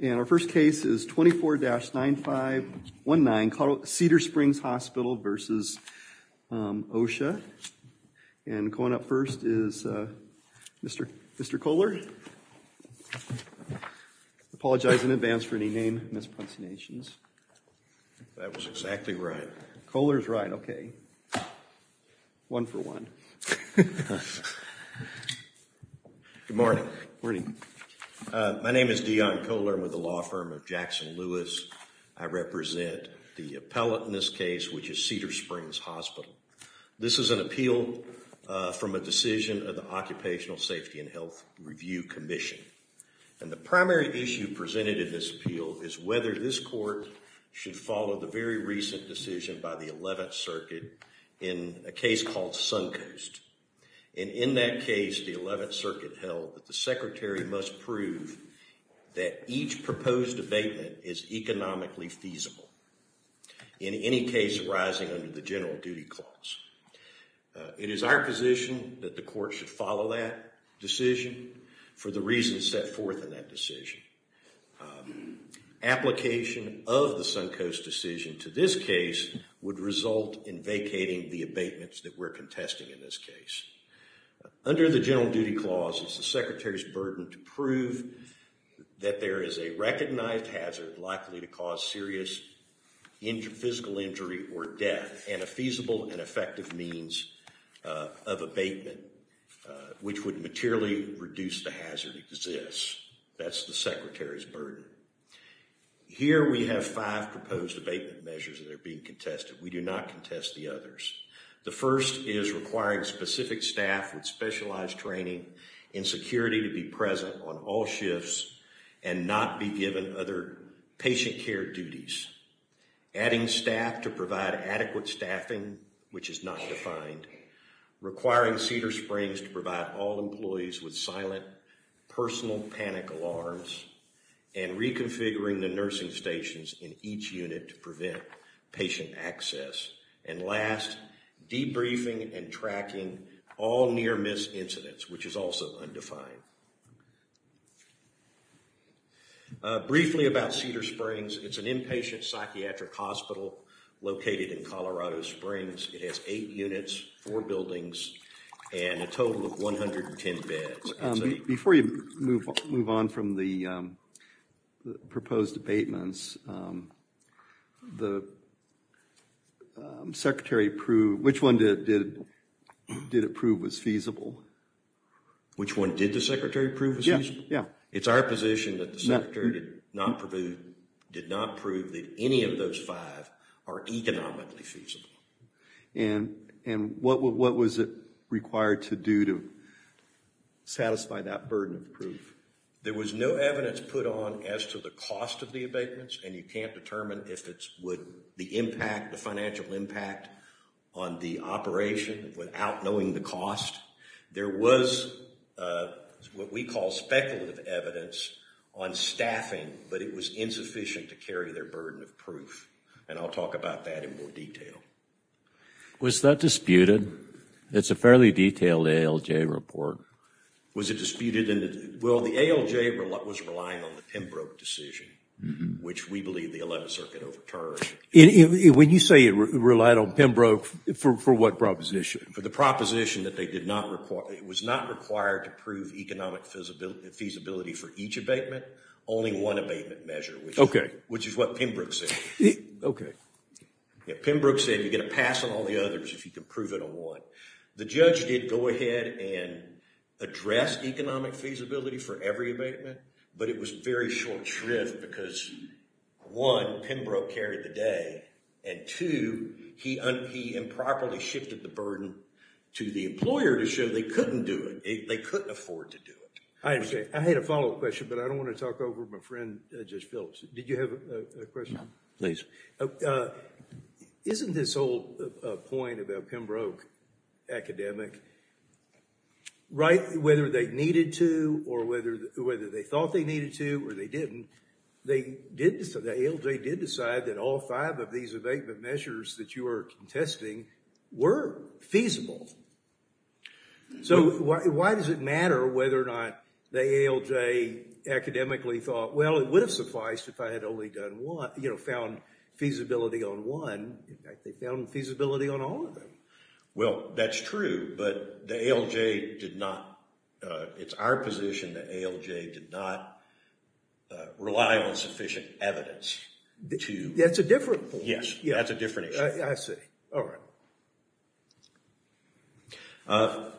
and our first case is 24-9519 Cedar Springs Hospital v. OSHA and going up first is Mr. Kohler. I apologize in advance for any name mispronunciations. That was exactly right. Kohler's right, okay. One for one. Good morning. Good morning. My name is Deon Kohler. I'm with the law firm of Jackson Lewis. I represent the appellate in this case which is Cedar Springs Hospital. This is an appeal from a decision of the Occupational Safety and Health Review Commission and the primary issue presented in this appeal is whether this court should follow the very recent decision by the 11th Circuit in a case called Suncoast and in that case the 11th Circuit held that the Secretary must prove that each proposed abatement is economically feasible in any case arising under the general duty clause. It is our position that the court should follow that decision for the reasons set forth in that decision. Application of the Suncoast decision to this case would result in vacating the abatements that we're contesting in this case. Under the general duty clause it's the Secretary's burden to prove that there is a recognized hazard likely to cause serious physical injury or death and a feasible and effective means of abatement which would materially reduce the hazard exists. That's the Secretary's burden. Here we have five proposed abatement measures that are being contested. We do not contest the others. The first is requiring specific staff with specialized training and security to be present on all shifts and not be given other patient care duties. Adding staff to provide adequate staffing which is not defined. Requiring Cedar Springs to provide all employees with silent personal panic alarms and reconfiguring the nursing stations in each unit to patient access. And last debriefing and tracking all near-miss incidents which is also undefined. Briefly about Cedar Springs, it's an inpatient psychiatric hospital located in Colorado Springs. It has eight units, four buildings, and a total of 110 beds. Before you move on from the proposed abatements, the Secretary proved, which one did it prove was feasible? Which one did the Secretary prove was feasible? Yeah. It's our position that the Secretary did not prove that any of those five are economically feasible. And what was it required to do to satisfy that burden of proof? There was no evidence put on as to the cost of the abatements and you can't determine if the impact, the financial impact on the operation without knowing the cost. There was what we call speculative evidence on staffing but it was insufficient to carry their burden of proof and I'll talk about that in more detail. Was that disputed? It's a fairly detailed ALJ report. Was it disputed? Well the ALJ was relying on the Pembroke decision which we believe the 11th Circuit overturned. When you say it relied on Pembroke, for what proposition? For the proposition that they did not require, it was not required to prove economic feasibility for each abatement, only one abatement measure. Okay. Which is what Pembroke said. Okay. Pembroke said you get a pass on all the others if you can prove it on one. The judge did go ahead and address economic feasibility for every abatement but it was very short shrift because one, Pembroke carried the day and two, he improperly shifted the burden to the employer to show they couldn't do it. They couldn't afford to do it. I understand. I had a follow-up question but I don't want to talk over my friend Judge Phillips. Did you have a question? Please. Isn't this whole point about Pembroke academic, right, whether they needed to or whether they thought they needed to or they didn't, the ALJ did decide that all five of these abatement measures that you are contesting were feasible. So why does it matter whether or not the ALJ academically thought, well it would have sufficed if I had only done one, you know, found feasibility on one. They found feasibility on all of them. Well that's true but the ALJ did not, it's our position that ALJ did not rely on sufficient evidence. That's a different point. Yes, that's a different issue. I see. All right.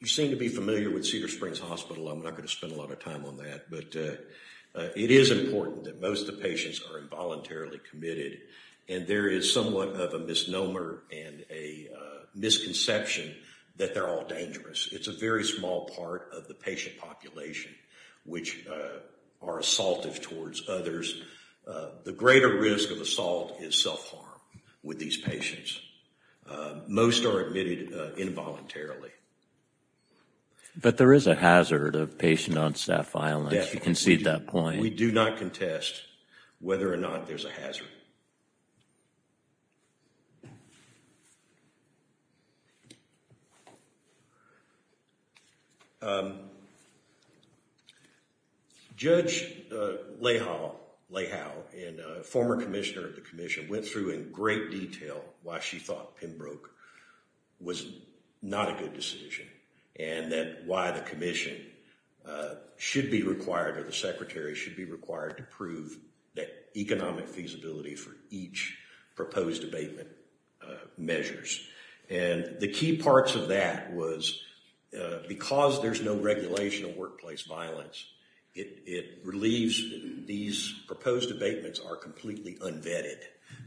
You seem to be familiar with Cedar Springs Hospital. I'm not going to spend a lot of time on that but it is important that most of the patients are involuntarily committed and there is somewhat of a misnomer and a misconception that they're all dangerous. It's a very small part of the patient population which are assaultive towards others. The greater risk of assault is self-harm with these patients. Most are admitted involuntarily. But there is a hazard of patient-on-staff violence. You concede that point. We do not contest whether or not there's a hazard. Judge Leigh Howe, a former commissioner of the Commission, went through in great detail why she thought Pembroke was not a good decision and that why the Commission should be required or the Secretary should be required to prove that economic feasibility for each proposed abatement measures. And the key parts of that was because there's no regulation of workplace violence, it relieves these proposed abatements are completely unvetted.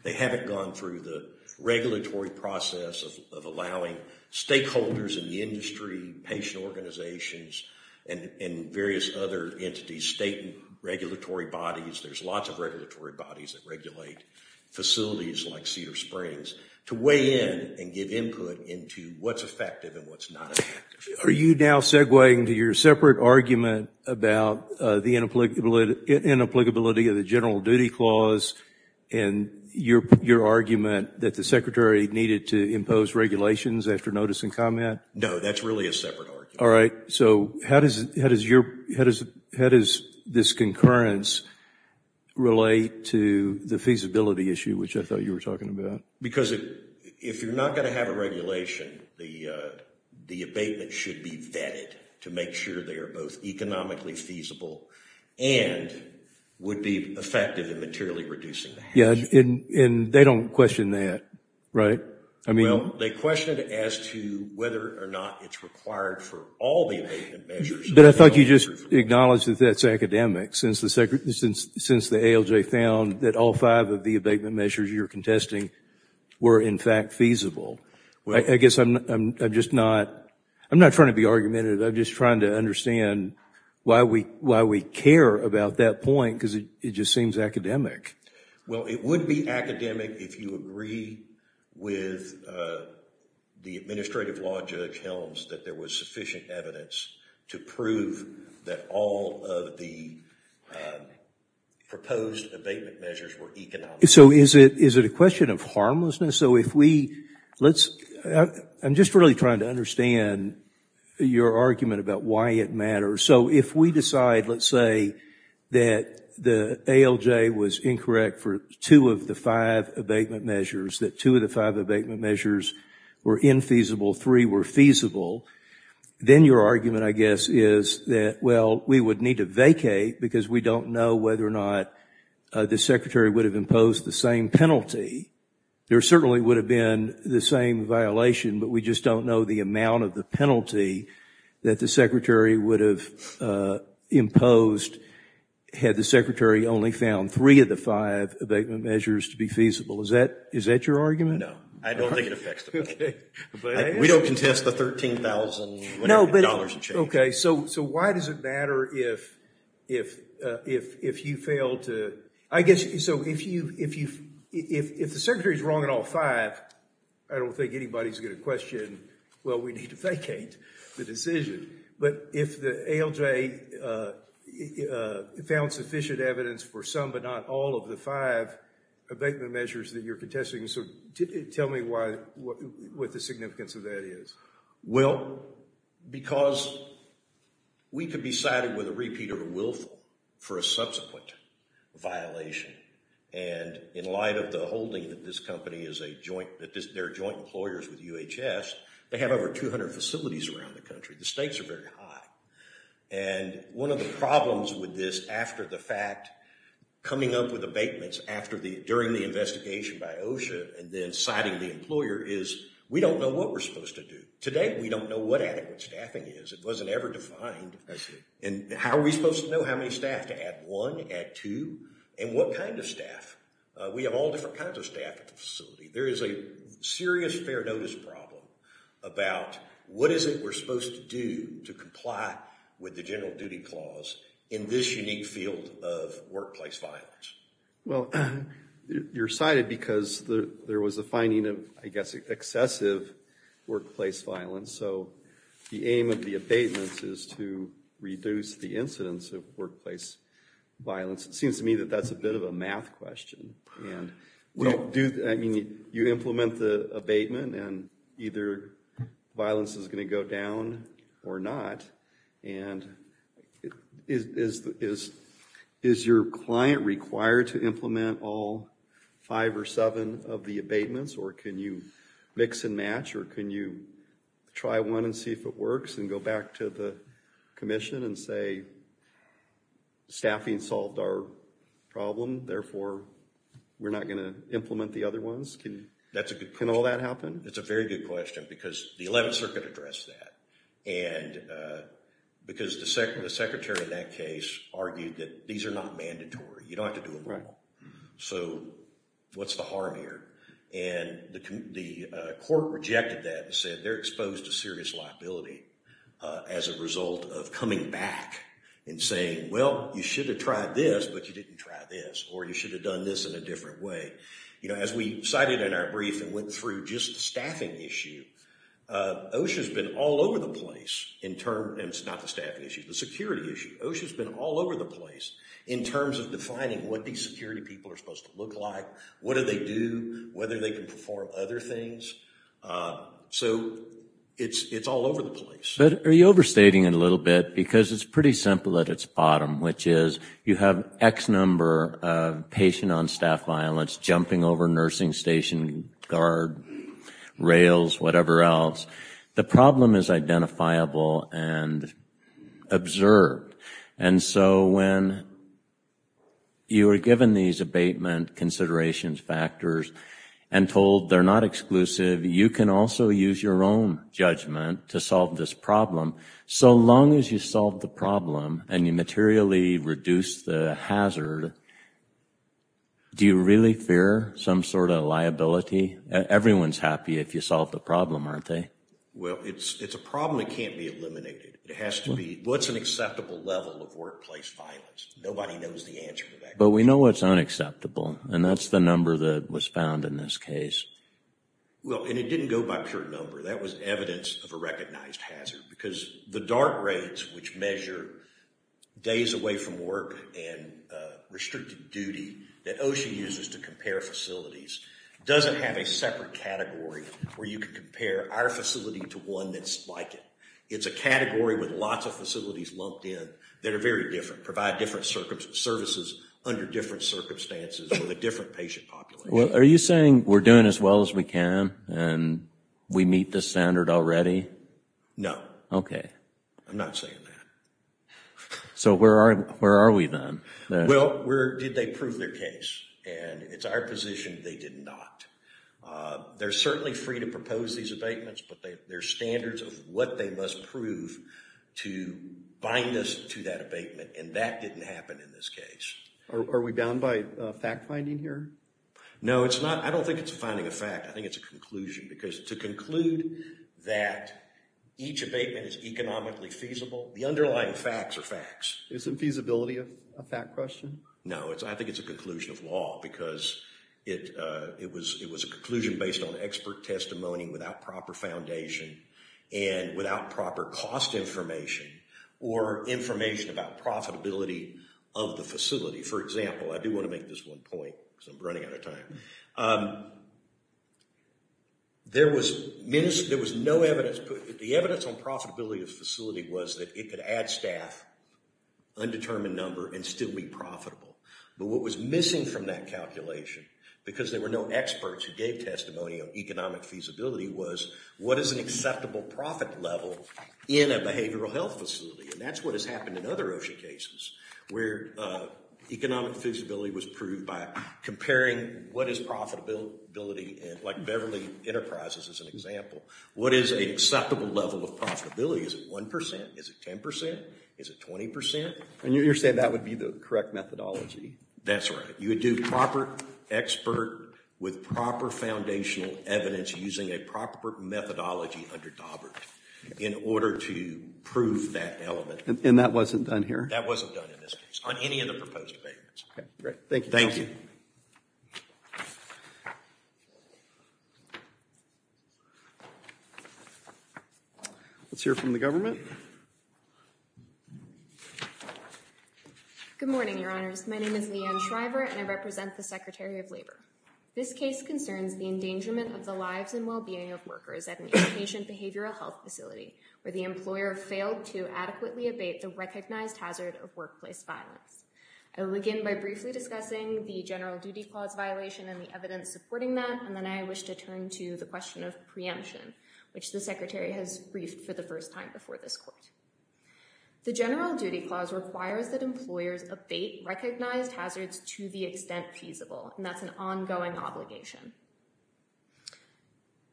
They haven't gone through the regulatory process of allowing stakeholders in the industry, patient organizations, and various other entities, state regulatory bodies, there's lots of regulatory bodies that regulate facilities like Cedar Springs, to weigh in and give input into what's effective and what's not. Are you now segueing to your separate argument about the inapplicability of the general duty clause and your argument that the Secretary needed to impose regulations after notice and comment? No, that's really a separate argument. All right, so how does this concurrence relate to the feasibility issue which I thought you were talking about? Because if you're not going to have a regulation, the abatement should be vetted to make sure they are both economically feasible and would be effective in materially reducing the hazard. Yeah, and they don't question that, right? Well, they question it as to whether or not it's required for all the abatement measures. But I thought you just acknowledged that that's academic since the ALJ found that all five of the abatement measures you're contesting were, in fact, feasible. I guess I'm just not trying to be argumentative. I'm just trying to understand why we care about that point because it just seems academic. Well, it would be academic if you agree with the Administrative Law Judge Helms that there was sufficient evidence to prove that all of the proposed abatement measures were economic. So is it a question of harmlessness? So if we, let's, I'm just really trying to understand your argument about why it matters. So if we decide, let's say, that the ALJ was incorrect for two of the five abatement measures, that two of the five abatement measures were infeasible, three were feasible, then your argument, I guess, is that, well, we would need to vacate because we don't know whether or not the Secretary would have imposed the same penalty. There certainly would have been the same violation, but we just don't know the amount of the penalty that the Secretary would have imposed had the Secretary only found three of the five abatement measures to be feasible. Is that, is that your argument? No, I don't think it affects the penalty. We don't contest the $13,000 change. Okay, so why does it matter if, if, if, if you fail to, I guess, so if you, if you, if the Secretary is wrong in all five, I don't think anybody's going to question, well, we need to vacate the decision. But if the ALJ found sufficient evidence for some but not all of the five abatement measures that you're contesting, so tell me why, what, what the significance of that is. Well, because we could be cited with a repeat of a willful for a subsequent violation, and in light of the holding that this company is a joint, that this, they're joint employers with UHS, they have over 200 facilities around the country. The stakes are very high, and one of the problems with this after the fact, coming up with abatements after the, during the investigation by OSHA, and then citing the employer, is we don't know what we're supposed to do. Today, we don't know what adequate staffing is. It wasn't ever defined, and how are we supposed to know how many staff to add? One, add two, and what kind of staff? We have all different kinds of staff at the facility. There is a serious fair notice problem about what is it we're supposed to do to comply with the general duty clause in this unique field of workplace violence. Well, you're cited because there was a finding of, I guess, excessive workplace violence, so the aim of the abatements is to reduce the incidence of workplace violence. It seems to me that that's a bit of a math question, and we don't do, I mean, you implement the abatement, and either violence is going to go down or not, and is your client required to implement all five or seven of the abatements, or can you mix and match, or can you try one and see if it works, and go back to the Commission and say, staffing solved our problem, therefore we're not going to implement the other ones? Can all that happen? It's a very good question, because the 11th Circuit addressed that, and because the Secretary of that case argued that these are not mandatory. You don't have to do them all, so what's the harm here? And the court rejected that and said they're exposed to serious liability as a result of coming back and saying, well, you should have tried this, but you didn't try this, or you should have done this in a different way. You know, as we cited in our brief and went through just the staffing issue, OSHA's been all over the place in terms, and it's not the staffing issue, the security issue. OSHA's been all over the place in terms of defining what these security people are supposed to look like, what do they do, whether they can perform other things, so it's all over the place. But are you overstating it a little bit, because it's pretty simple at its bottom, which is you have X number of patient on staff violence jumping over nursing station guard rails, whatever else. The problem is identifiable and observed, and so when you are given these abatement considerations factors and told they're not exclusive, you can also use your own judgment to solve this problem. So long as you solve the problem and you materially reduce the hazard, do you really fear some sort of liability? Everyone's happy if you solve the problem, aren't they? Well, it's a problem that can't be eliminated. It has to be what's an acceptable level of workplace violence. Nobody knows the answer. But we know what's unacceptable, and that's the number that was found in this case. Well, and it didn't go by pure number. That was evidence of a recognized hazard, because the dart raids which measure days away from work and restricted duty that OSHA uses to compare facilities doesn't have a separate category where you can compare our facility to one that's like it. It's a category with lots of facilities lumped in that are very different, provide different services under different circumstances with a different patient population. Well, are you saying we're doing as well as we can and we meet the standard already? No. Okay. I'm not saying that. So where are we then? Well, where did they prove their case? And it's our position they did not. They're certainly free to propose these abatements, but they're standards of what they must prove to bind us to that abatement, and that didn't happen in this case. Are we bound by fact-finding here? No, it's not. I don't think it's finding a fact. I think it's a conclusion, because to conclude that each abatement is economically feasible, the underlying facts are facts. Isn't feasibility a fact question? No, I think it's a conclusion of law, because it was a conclusion based on expert testimony without proper foundation and without proper cost information or information about profitability of the facility. For example, I do want to make this one point, because I'm running out of time. There was no evidence. The evidence on profitability of the facility was that it could add staff, undetermined number, and still be profitable. But what was missing from that calculation, because there were no experts who gave testimony of economic feasibility, was what is an acceptable profit level in a behavioral health facility? And that's what has happened in other OSHA cases, where economic feasibility was proved by comparing what is profitability, like Beverly Enterprises as an example. What is an acceptable level of profitability? Is it 1%? Is it 10%? Is it 20%? And you're saying that would be the correct methodology? That's right. You would do proper expert with proper foundational evidence using a proper methodology under Daubert in order to prove that element. And that wasn't done here? That wasn't done in this case, on any of the proposed amendments. Thank you. Let's hear from the government. Good morning, Your Honors. My name is Leigh Ann Shriver, and I represent the Secretary of Labor. This case concerns the endangerment of the lives and well-being of workers at an inpatient behavioral health facility, where the employer failed to adequately abate the recognized hazard of workplace violence. I will begin by briefly discussing the general duty clause violation and the evidence supporting that, and then I wish to turn to the question of preemption, which the Secretary has briefed for the first time before this court. The general duty clause requires that employers abate recognized hazards to the extent feasible, and that's an ongoing obligation.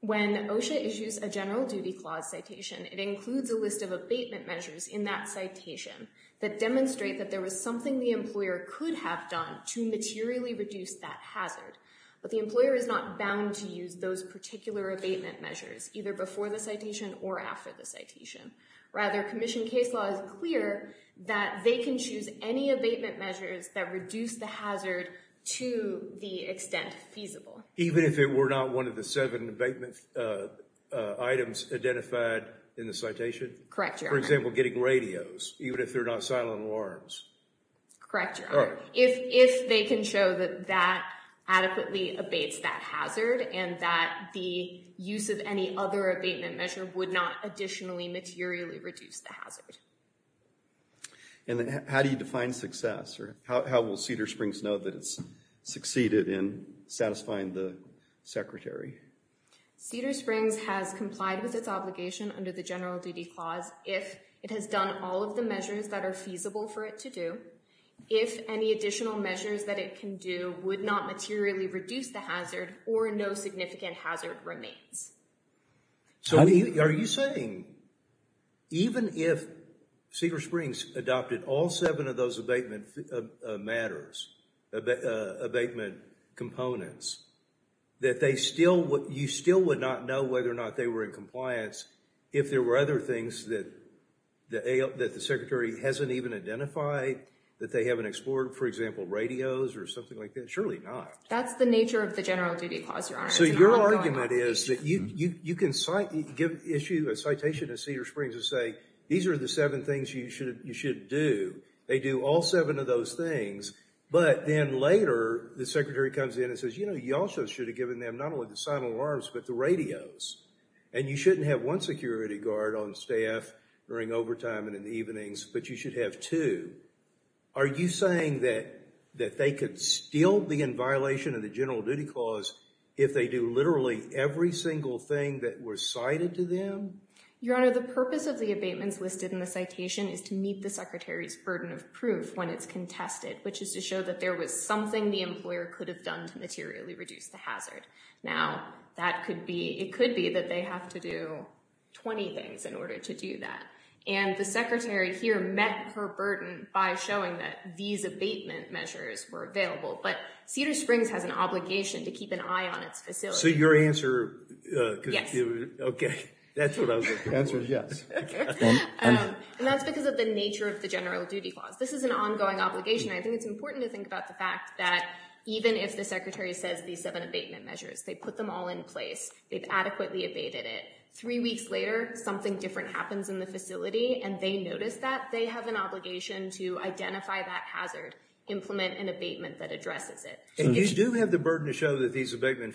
When OSHA issues a general duty clause citation, it includes a list of abatement measures in that citation that demonstrate that there was something the employer could have done to materially reduce that hazard, but the employer is not bound to use those particular abatement measures, either before the citation or after the citation. Rather, Commission case law is clear that they can choose any abatement measures that reduce the hazard to the extent feasible. Even if it were not one of the seven abatement items identified in the citation? Correct, Your Honor. For example, getting radios, even if they're not silent alarms? Correct, Your Honor. If they can show that that adequately abates that hazard and that the use of any other abatement measure would not additionally materially reduce the hazard. And then how do you define success, or how will Cedar Springs know that it's succeeded in satisfying the Secretary? Cedar Springs has complied with its obligation under the general duty clause if it has done all of the measures that are feasible for it to do, if any additional measures that it can do would not materially reduce the hazard, or no significant hazard remains. So are you saying even if Cedar Springs adopted all seven of those abatement matters, abatement components, that they still would, you know, whether or not they were in compliance, if there were other things that the Secretary hasn't even identified, that they haven't explored? For example, radios or something like that? Surely not. That's the nature of the general duty clause, Your Honor. So your argument is that you can issue a citation to Cedar Springs to say, these are the seven things you should do. They do all seven of those things, but then later the Secretary comes in and says, you know, you also should have given them not only the silent alarms, but the radios. And you shouldn't have one security guard on staff during overtime and in the evenings, but you should have two. Are you saying that they could still be in violation of the general duty clause if they do literally every single thing that were cited to them? Your Honor, the purpose of the abatements listed in the citation is to meet the Secretary's burden of proof when it's contested, which is to show that there was something the employer could have done to materially reduce the hazard. Now, that could be, it could be that they have to do 20 things in order to do that. And the Secretary here met her burden by showing that these abatement measures were available. But Cedar Springs has an obligation to keep an eye on its facilities. So your answer... Yes. Okay, that's what I was looking for. Your answer is yes. And that's because of the nature of the general duty clause. This is an ongoing obligation. I think it's important to think about the fact that even if the Secretary says these seven abatement measures, they put them all in place, they've adequately abated it, three weeks later something different happens in the facility and they notice that, they have an obligation to identify that hazard, implement an abatement that addresses it. And you do have the burden to show that these abatement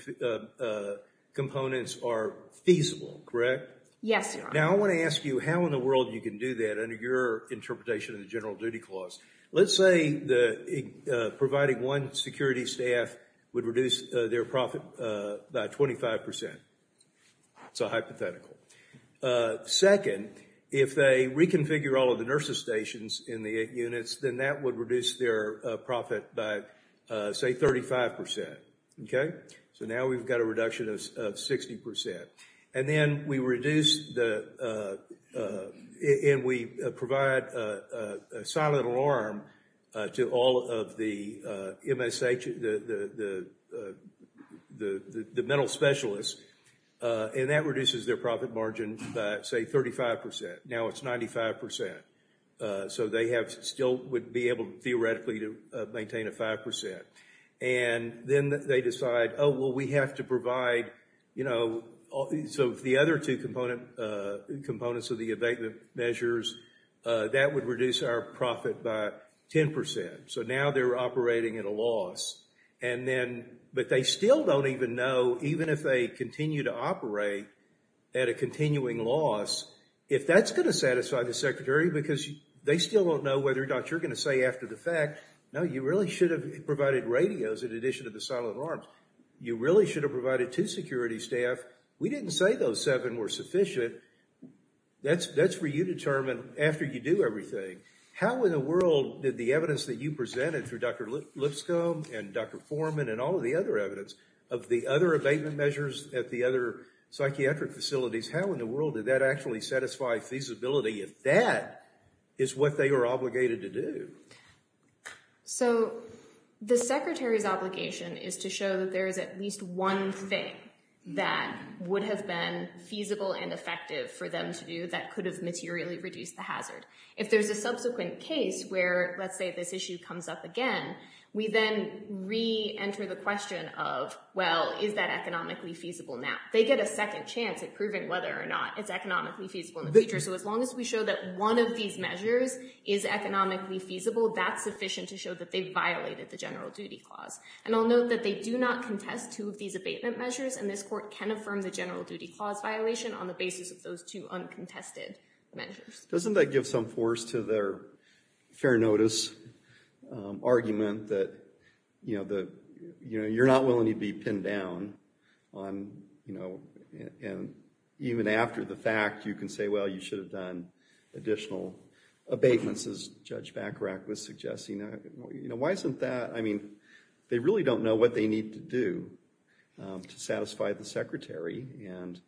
components are feasible, correct? Yes, Your Honor. Now, I want to ask you how in the world you can do that under your interpretation of the Security staff would reduce their profit by 25 percent. It's a hypothetical. Second, if they reconfigure all of the nurses stations in the units, then that would reduce their profit by, say, 35 percent. Okay? So now we've got a reduction of 60 percent. And then we reduce the... and we provide a silent alarm to all of the MSH, the mental specialists, and that reduces their profit margin by, say, 35 percent. Now it's 95 percent. So they have still would be able, theoretically, to maintain a 5 percent. And then they decide, oh, well, we have to provide, you know, so the other two components of the abatement measures, that would reduce our profit by 10 percent. So now they're operating at a loss. And then... but they still don't even know, even if they continue to operate at a continuing loss, if that's going to satisfy the Secretary, because they still don't know whether or not you're going to say after the fact, no, you really should have provided radios in addition to the silent alarms. You really should have provided two security staff. We didn't say those seven were sufficient. That's for you to determine after you do everything. How in the world did the evidence that you presented through Dr. Lipscomb and Dr. Foreman and all of the other evidence of the other abatement measures at the other psychiatric facilities, how in the world did that actually satisfy feasibility if that is what they were obligated to do? So the Secretary's obligation is to show that there is at least one thing that would have been feasible and effective for them to do that could have materially reduced the hazard. If there's a subsequent case where, let's say, this issue comes up again, we then re-enter the question of, well, is that economically feasible now? They get a second chance at proving whether or not it's economically feasible in the future. So as long as we show that one of these measures is economically feasible, that's sufficient to show that they violated the general duty clause. And I'll note that they do not contest two of these abatement measures and this court can affirm the general duty clause violation on the basis of those two uncontested measures. Doesn't that give some force to their fair notice argument that, you know, that you're not willing to be pinned down on, you know, and even after the fact you can say, well, you should have done additional abatements, as Judge Bacharach was suggesting. You know, why isn't that, I mean, they really don't know what they need to do to satisfy the secretary. And,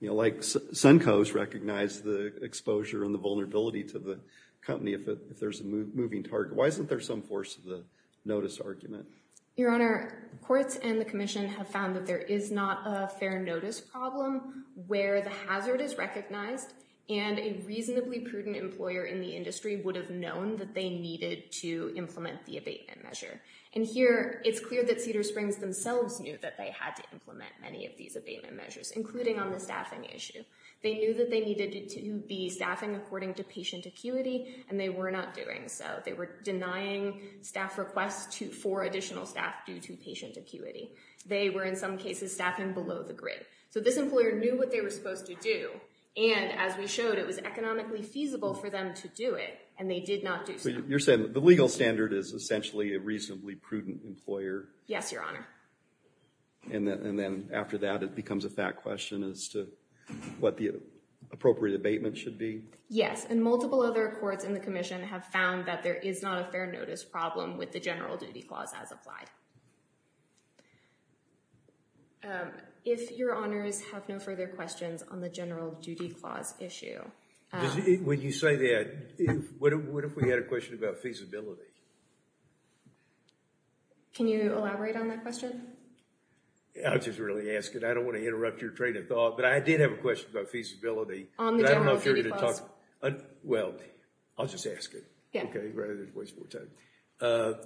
you know, like Sunco's recognized the exposure and the vulnerability to the company if there's a moving target. Why isn't there some force to the notice argument? Your Honor, courts and the Commission have found that there is not a fair notice problem where the hazard is recognized and a reasonably prudent employer in the industry would have known that they needed to implement the abatement measure. And here it's clear that Cedar Springs themselves knew that they had to implement many of these abatement measures, including on the staffing issue. They knew that they needed to be staffing according to patient acuity and they were not doing so. They were denying staff requests for additional staff due to patient acuity. They were in some cases staffing below the grid. So this employer knew what they were supposed to do and, as we showed, it was economically feasible for them to do it and they did not do so. You're saying the legal standard is essentially a reasonably prudent employer? Yes, Your Honor. And then after that it becomes a fat question as to what the appropriate abatement should be? Yes, and multiple other courts in the Commission have found that there is not a fair notice problem with the general duty clause as applied. If Your Honors have no further questions on the general duty clause issue. When you say that, what if we had a question about feasibility? Can you elaborate on that question? I'll just really ask it. I don't want to interrupt your train of thought, but I did have a question about feasibility. On the general duty clause? Well, I'll just ask it. Yeah. Okay, rather than waste more time.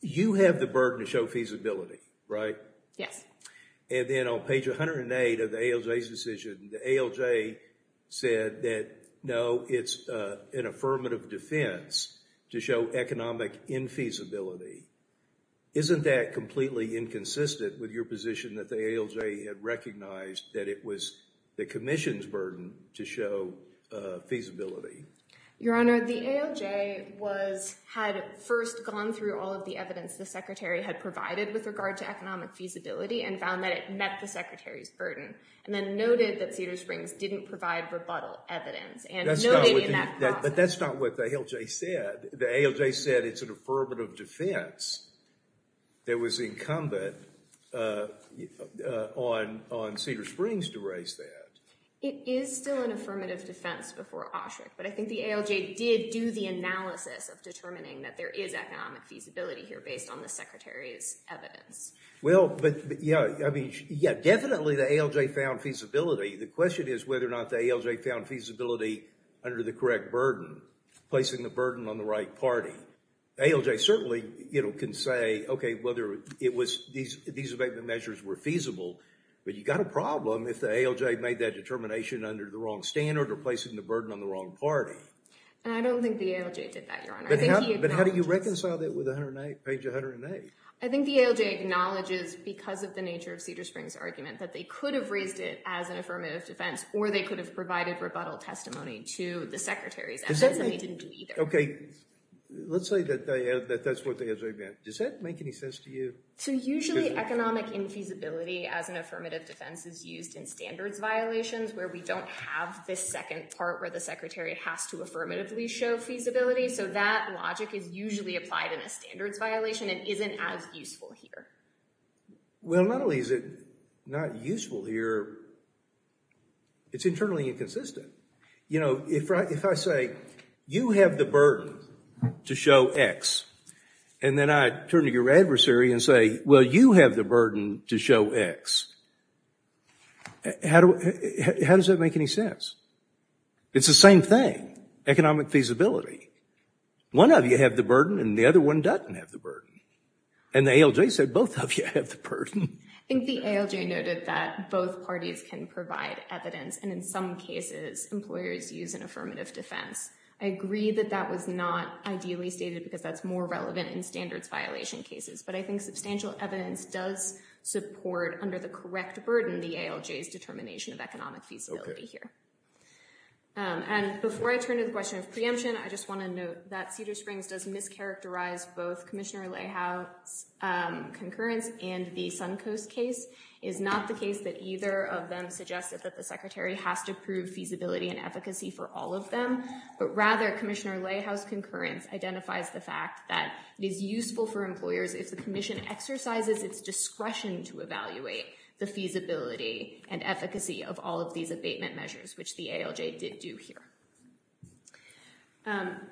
You have the burden to show feasibility, right? Yes. And then on page 108 of the ALJ's decision, the ALJ said that, no, it's an affirmative defense to show economic infeasibility. Isn't that completely inconsistent with your position that the ALJ had recognized that it was the Commission's burden to show feasibility? Your Honor, the ALJ had first gone through all of the evidence the Secretary had provided with regard to economic feasibility and found that it met the Secretary's burden, and then noted that Cedar Springs didn't provide rebuttal evidence. But that's not what the ALJ said. The ALJ said it's an affirmative defense that was incumbent on Cedar Springs to raise that. It is still an affirmative defense before OSHREC, but I think the ALJ did do the analysis of determining that there is economic feasibility here based on the Secretary's evidence. Well, but yeah, I mean, yeah, definitely the ALJ found feasibility. The question is whether or not the ALJ found feasibility under the correct burden, placing the burden on the right party. ALJ certainly, you know, can say, okay, whether it was these abatement measures were feasible, but you got a problem if the ALJ made that determination under the wrong standard or placing the burden on the wrong party. I don't think the ALJ did that, Your Honor. But how do you reconcile that with page 108? I think the ALJ acknowledges, because of the nature of Cedar Springs' argument, that they could have raised it as an affirmative defense, or they could have provided rebuttal testimony to the Secretary's evidence, and they didn't do either. Okay, let's say that that's what they had to admit. Does that make any sense to you? So usually economic infeasibility as an affirmative defense is used in standards violations where we don't have this second part where the Secretary has to affirmatively show feasibility, so that logic is usually applied in a standards violation and isn't as useful here. Well, not only is it not useful here, it's internally inconsistent. You know, if I say, you have the burden to show X, and then I turn to your adversary and say, well, you have the burden to show X, how does that make any sense? It's the same thing, economic feasibility. One of you have the burden and the other one doesn't have the burden. And the ALJ said both of you have the burden. I think the ALJ noted that both parties can provide evidence, and in some cases employers use an affirmative defense. I agree that that was not ideally stated because that's more relevant in standards violation cases, but I think substantial evidence does support, under the correct burden, the ALJ's determination of economic feasibility here. And before I turn to the question of preemption, I just want to note that Cedar Springs does mischaracterize both Commissioner Layhouse's concurrence and the Suncoast case is not the case that either of them suggested that the Secretary has to prove feasibility and efficacy for all of them, but rather Commissioner Layhouse's concurrence identifies the fact that it is useful for employers if the Commission exercises its discretion to evaluate the feasibility and efficacy of all of these abatement measures, which the ALJ did do here.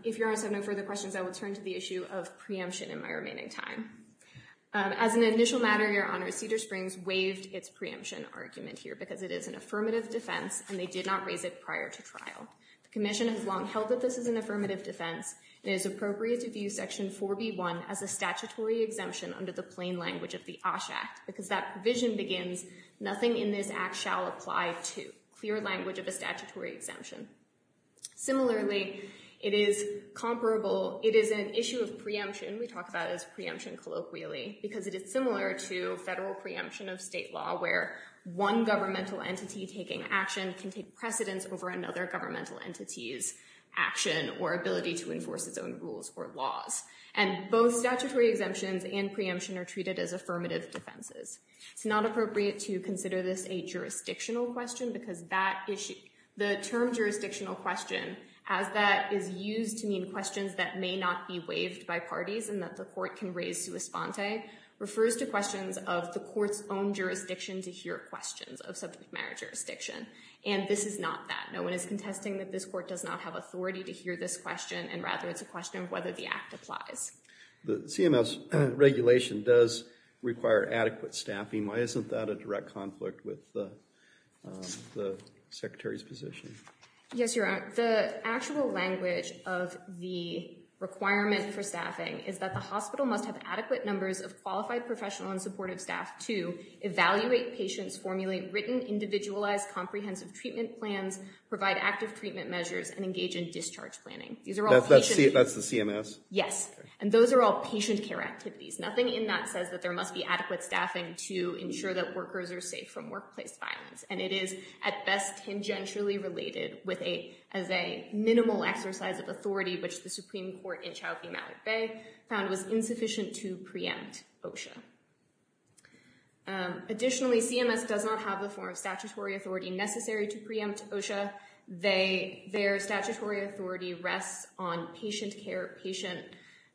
If Your Honor's have no further questions, I will turn to the issue of preemption in my remaining time. As an initial matter, Your Honor, Cedar Springs waived its preemption argument here because it is an affirmative defense and they did not raise it prior to trial. The Commission has long held that this is an or be one as a statutory exemption under the plain language of the OSHA, because that provision begins, nothing in this act shall apply to clear language of a statutory exemption. Similarly, it is comparable, it is an issue of preemption, we talk about as preemption colloquially, because it is similar to federal preemption of state law where one governmental entity taking action can take precedence over another governmental entity's action or ability to enforce its own rules or laws. And both statutory exemptions and preemption are treated as affirmative defenses. It's not appropriate to consider this a jurisdictional question because that issue, the term jurisdictional question, as that is used to mean questions that may not be waived by parties and that the court can raise sui sponte, refers to questions of the court's own jurisdiction to hear questions of subject matter jurisdiction. And this is not that. No one is contesting that this court does not have authority to hear this question and rather it's a question of whether the act applies. The CMS regulation does require adequate staffing. Why isn't that a direct conflict with the Secretary's position? Yes, Your Honor. The actual language of the requirement for staffing is that the hospital must have adequate numbers of qualified professional and supportive staff to evaluate patients, formulate written, individualized, comprehensive treatment plans, provide active treatment measures, and engage in discharge planning. That's the CMS? Yes. And those are all patient care activities. Nothing in that says that there must be adequate staffing to ensure that workers are safe from workplace violence. And it is at best tangentially related as a minimal exercise of authority, which the Supreme Court in Chowky-Mallett Bay found was insufficient to preempt OSHA. Additionally, CMS does not have the form of statutory authority necessary to preempt OSHA. Their statutory authority rests on patient care, patient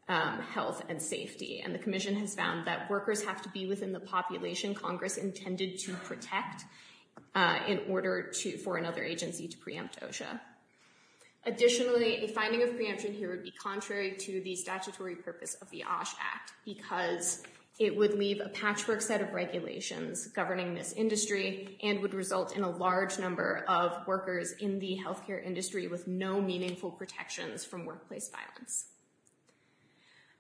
health, and safety. And the Commission has found that workers have to be within the population Congress intended to protect in order for another agency to preempt OSHA. Additionally, a finding of preemption here would be contrary to the statutory purpose of the OSH Act because it would leave a patchwork set of regulations governing this industry and would result in a large number of workers in the healthcare industry with no meaningful protections from workplace violence.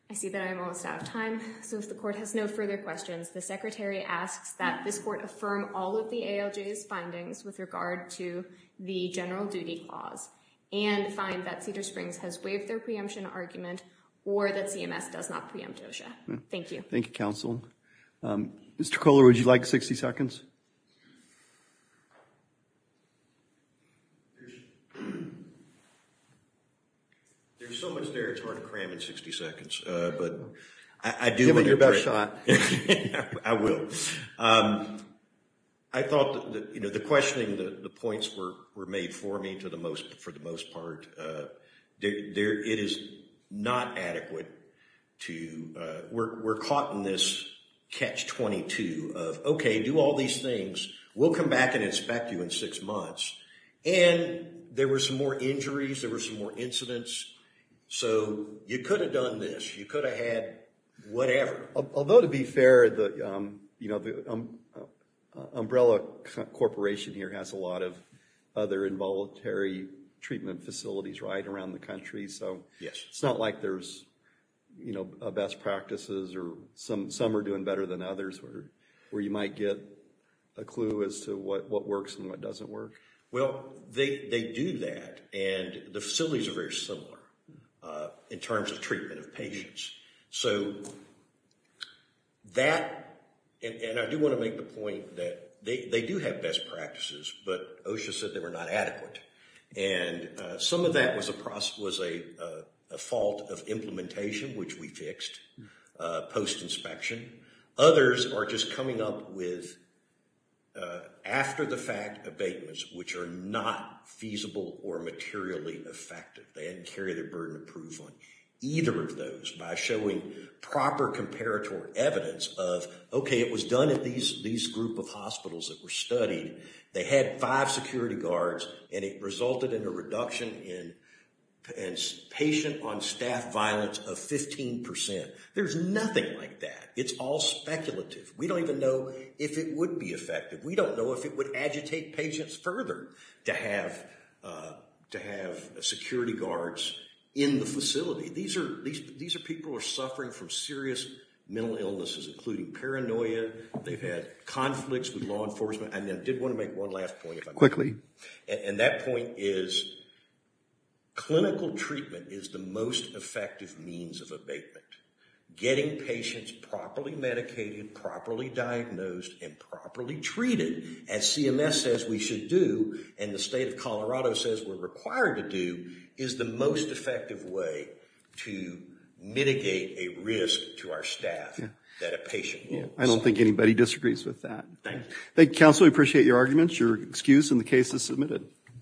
I see that I'm almost out of time, so if the Court has no further questions, the Secretary asks that this Court affirm all of the ALJ's findings with regard to the general duty clause and find that Cedar Springs has waived their preemption argument or that CMS does not preempt OSHA. Thank you. Thank you. Mr. Fuller, would you like 60 seconds? There's so much there, it's hard to cram in 60 seconds. Give it your best shot. I will. I thought, you know, the questioning, the points were made for me to the most, for the most part, it is not adequate to, we're caught in this catch-22 of, okay, do all these things, we'll come back and inspect you in six months, and there were some more injuries, there were some more incidents, so you could have done this, you could have had whatever. Although, to be fair, the, you know, the Umbrella Corporation here has a lot of other involuntary treatment facilities right around the country, so it's not like there's, you know, best practices or some are doing better than others where you might get a clue as to what works and what doesn't work. Well, they do that, and the facilities are very similar in terms of treatment of patients, so that, and I do want to make the point that they do have best practices, but OSHA said they were not adequate, and some of that was a process, was a fault of implementation, which we fixed post inspection. Others are just coming up with after-the-fact abatements, which are not feasible or materially effective. They didn't carry their burden of proof on either of those by showing proper comparatory evidence of, okay, it was done at these group of hospitals that were studied. They had five security guards, and it resulted in a reduction in patient-on-staff violence of 15%. There's nothing like that. It's all speculative. We don't even know if it would be effective. We don't know if it would agitate patients further to have to have security guards in the facility. These are people who are had conflicts with law enforcement, and I did want to make one last point quickly, and that point is clinical treatment is the most effective means of abatement. Getting patients properly medicated, properly diagnosed, and properly treated as CMS says we should do, and the state of Colorado says we're required to do, is the most effective way to mitigate a risk to our staff that a patient wants. I don't think anybody disagrees with that. Thank you, counsel. We appreciate your arguments. Your excuse in the case is submitted.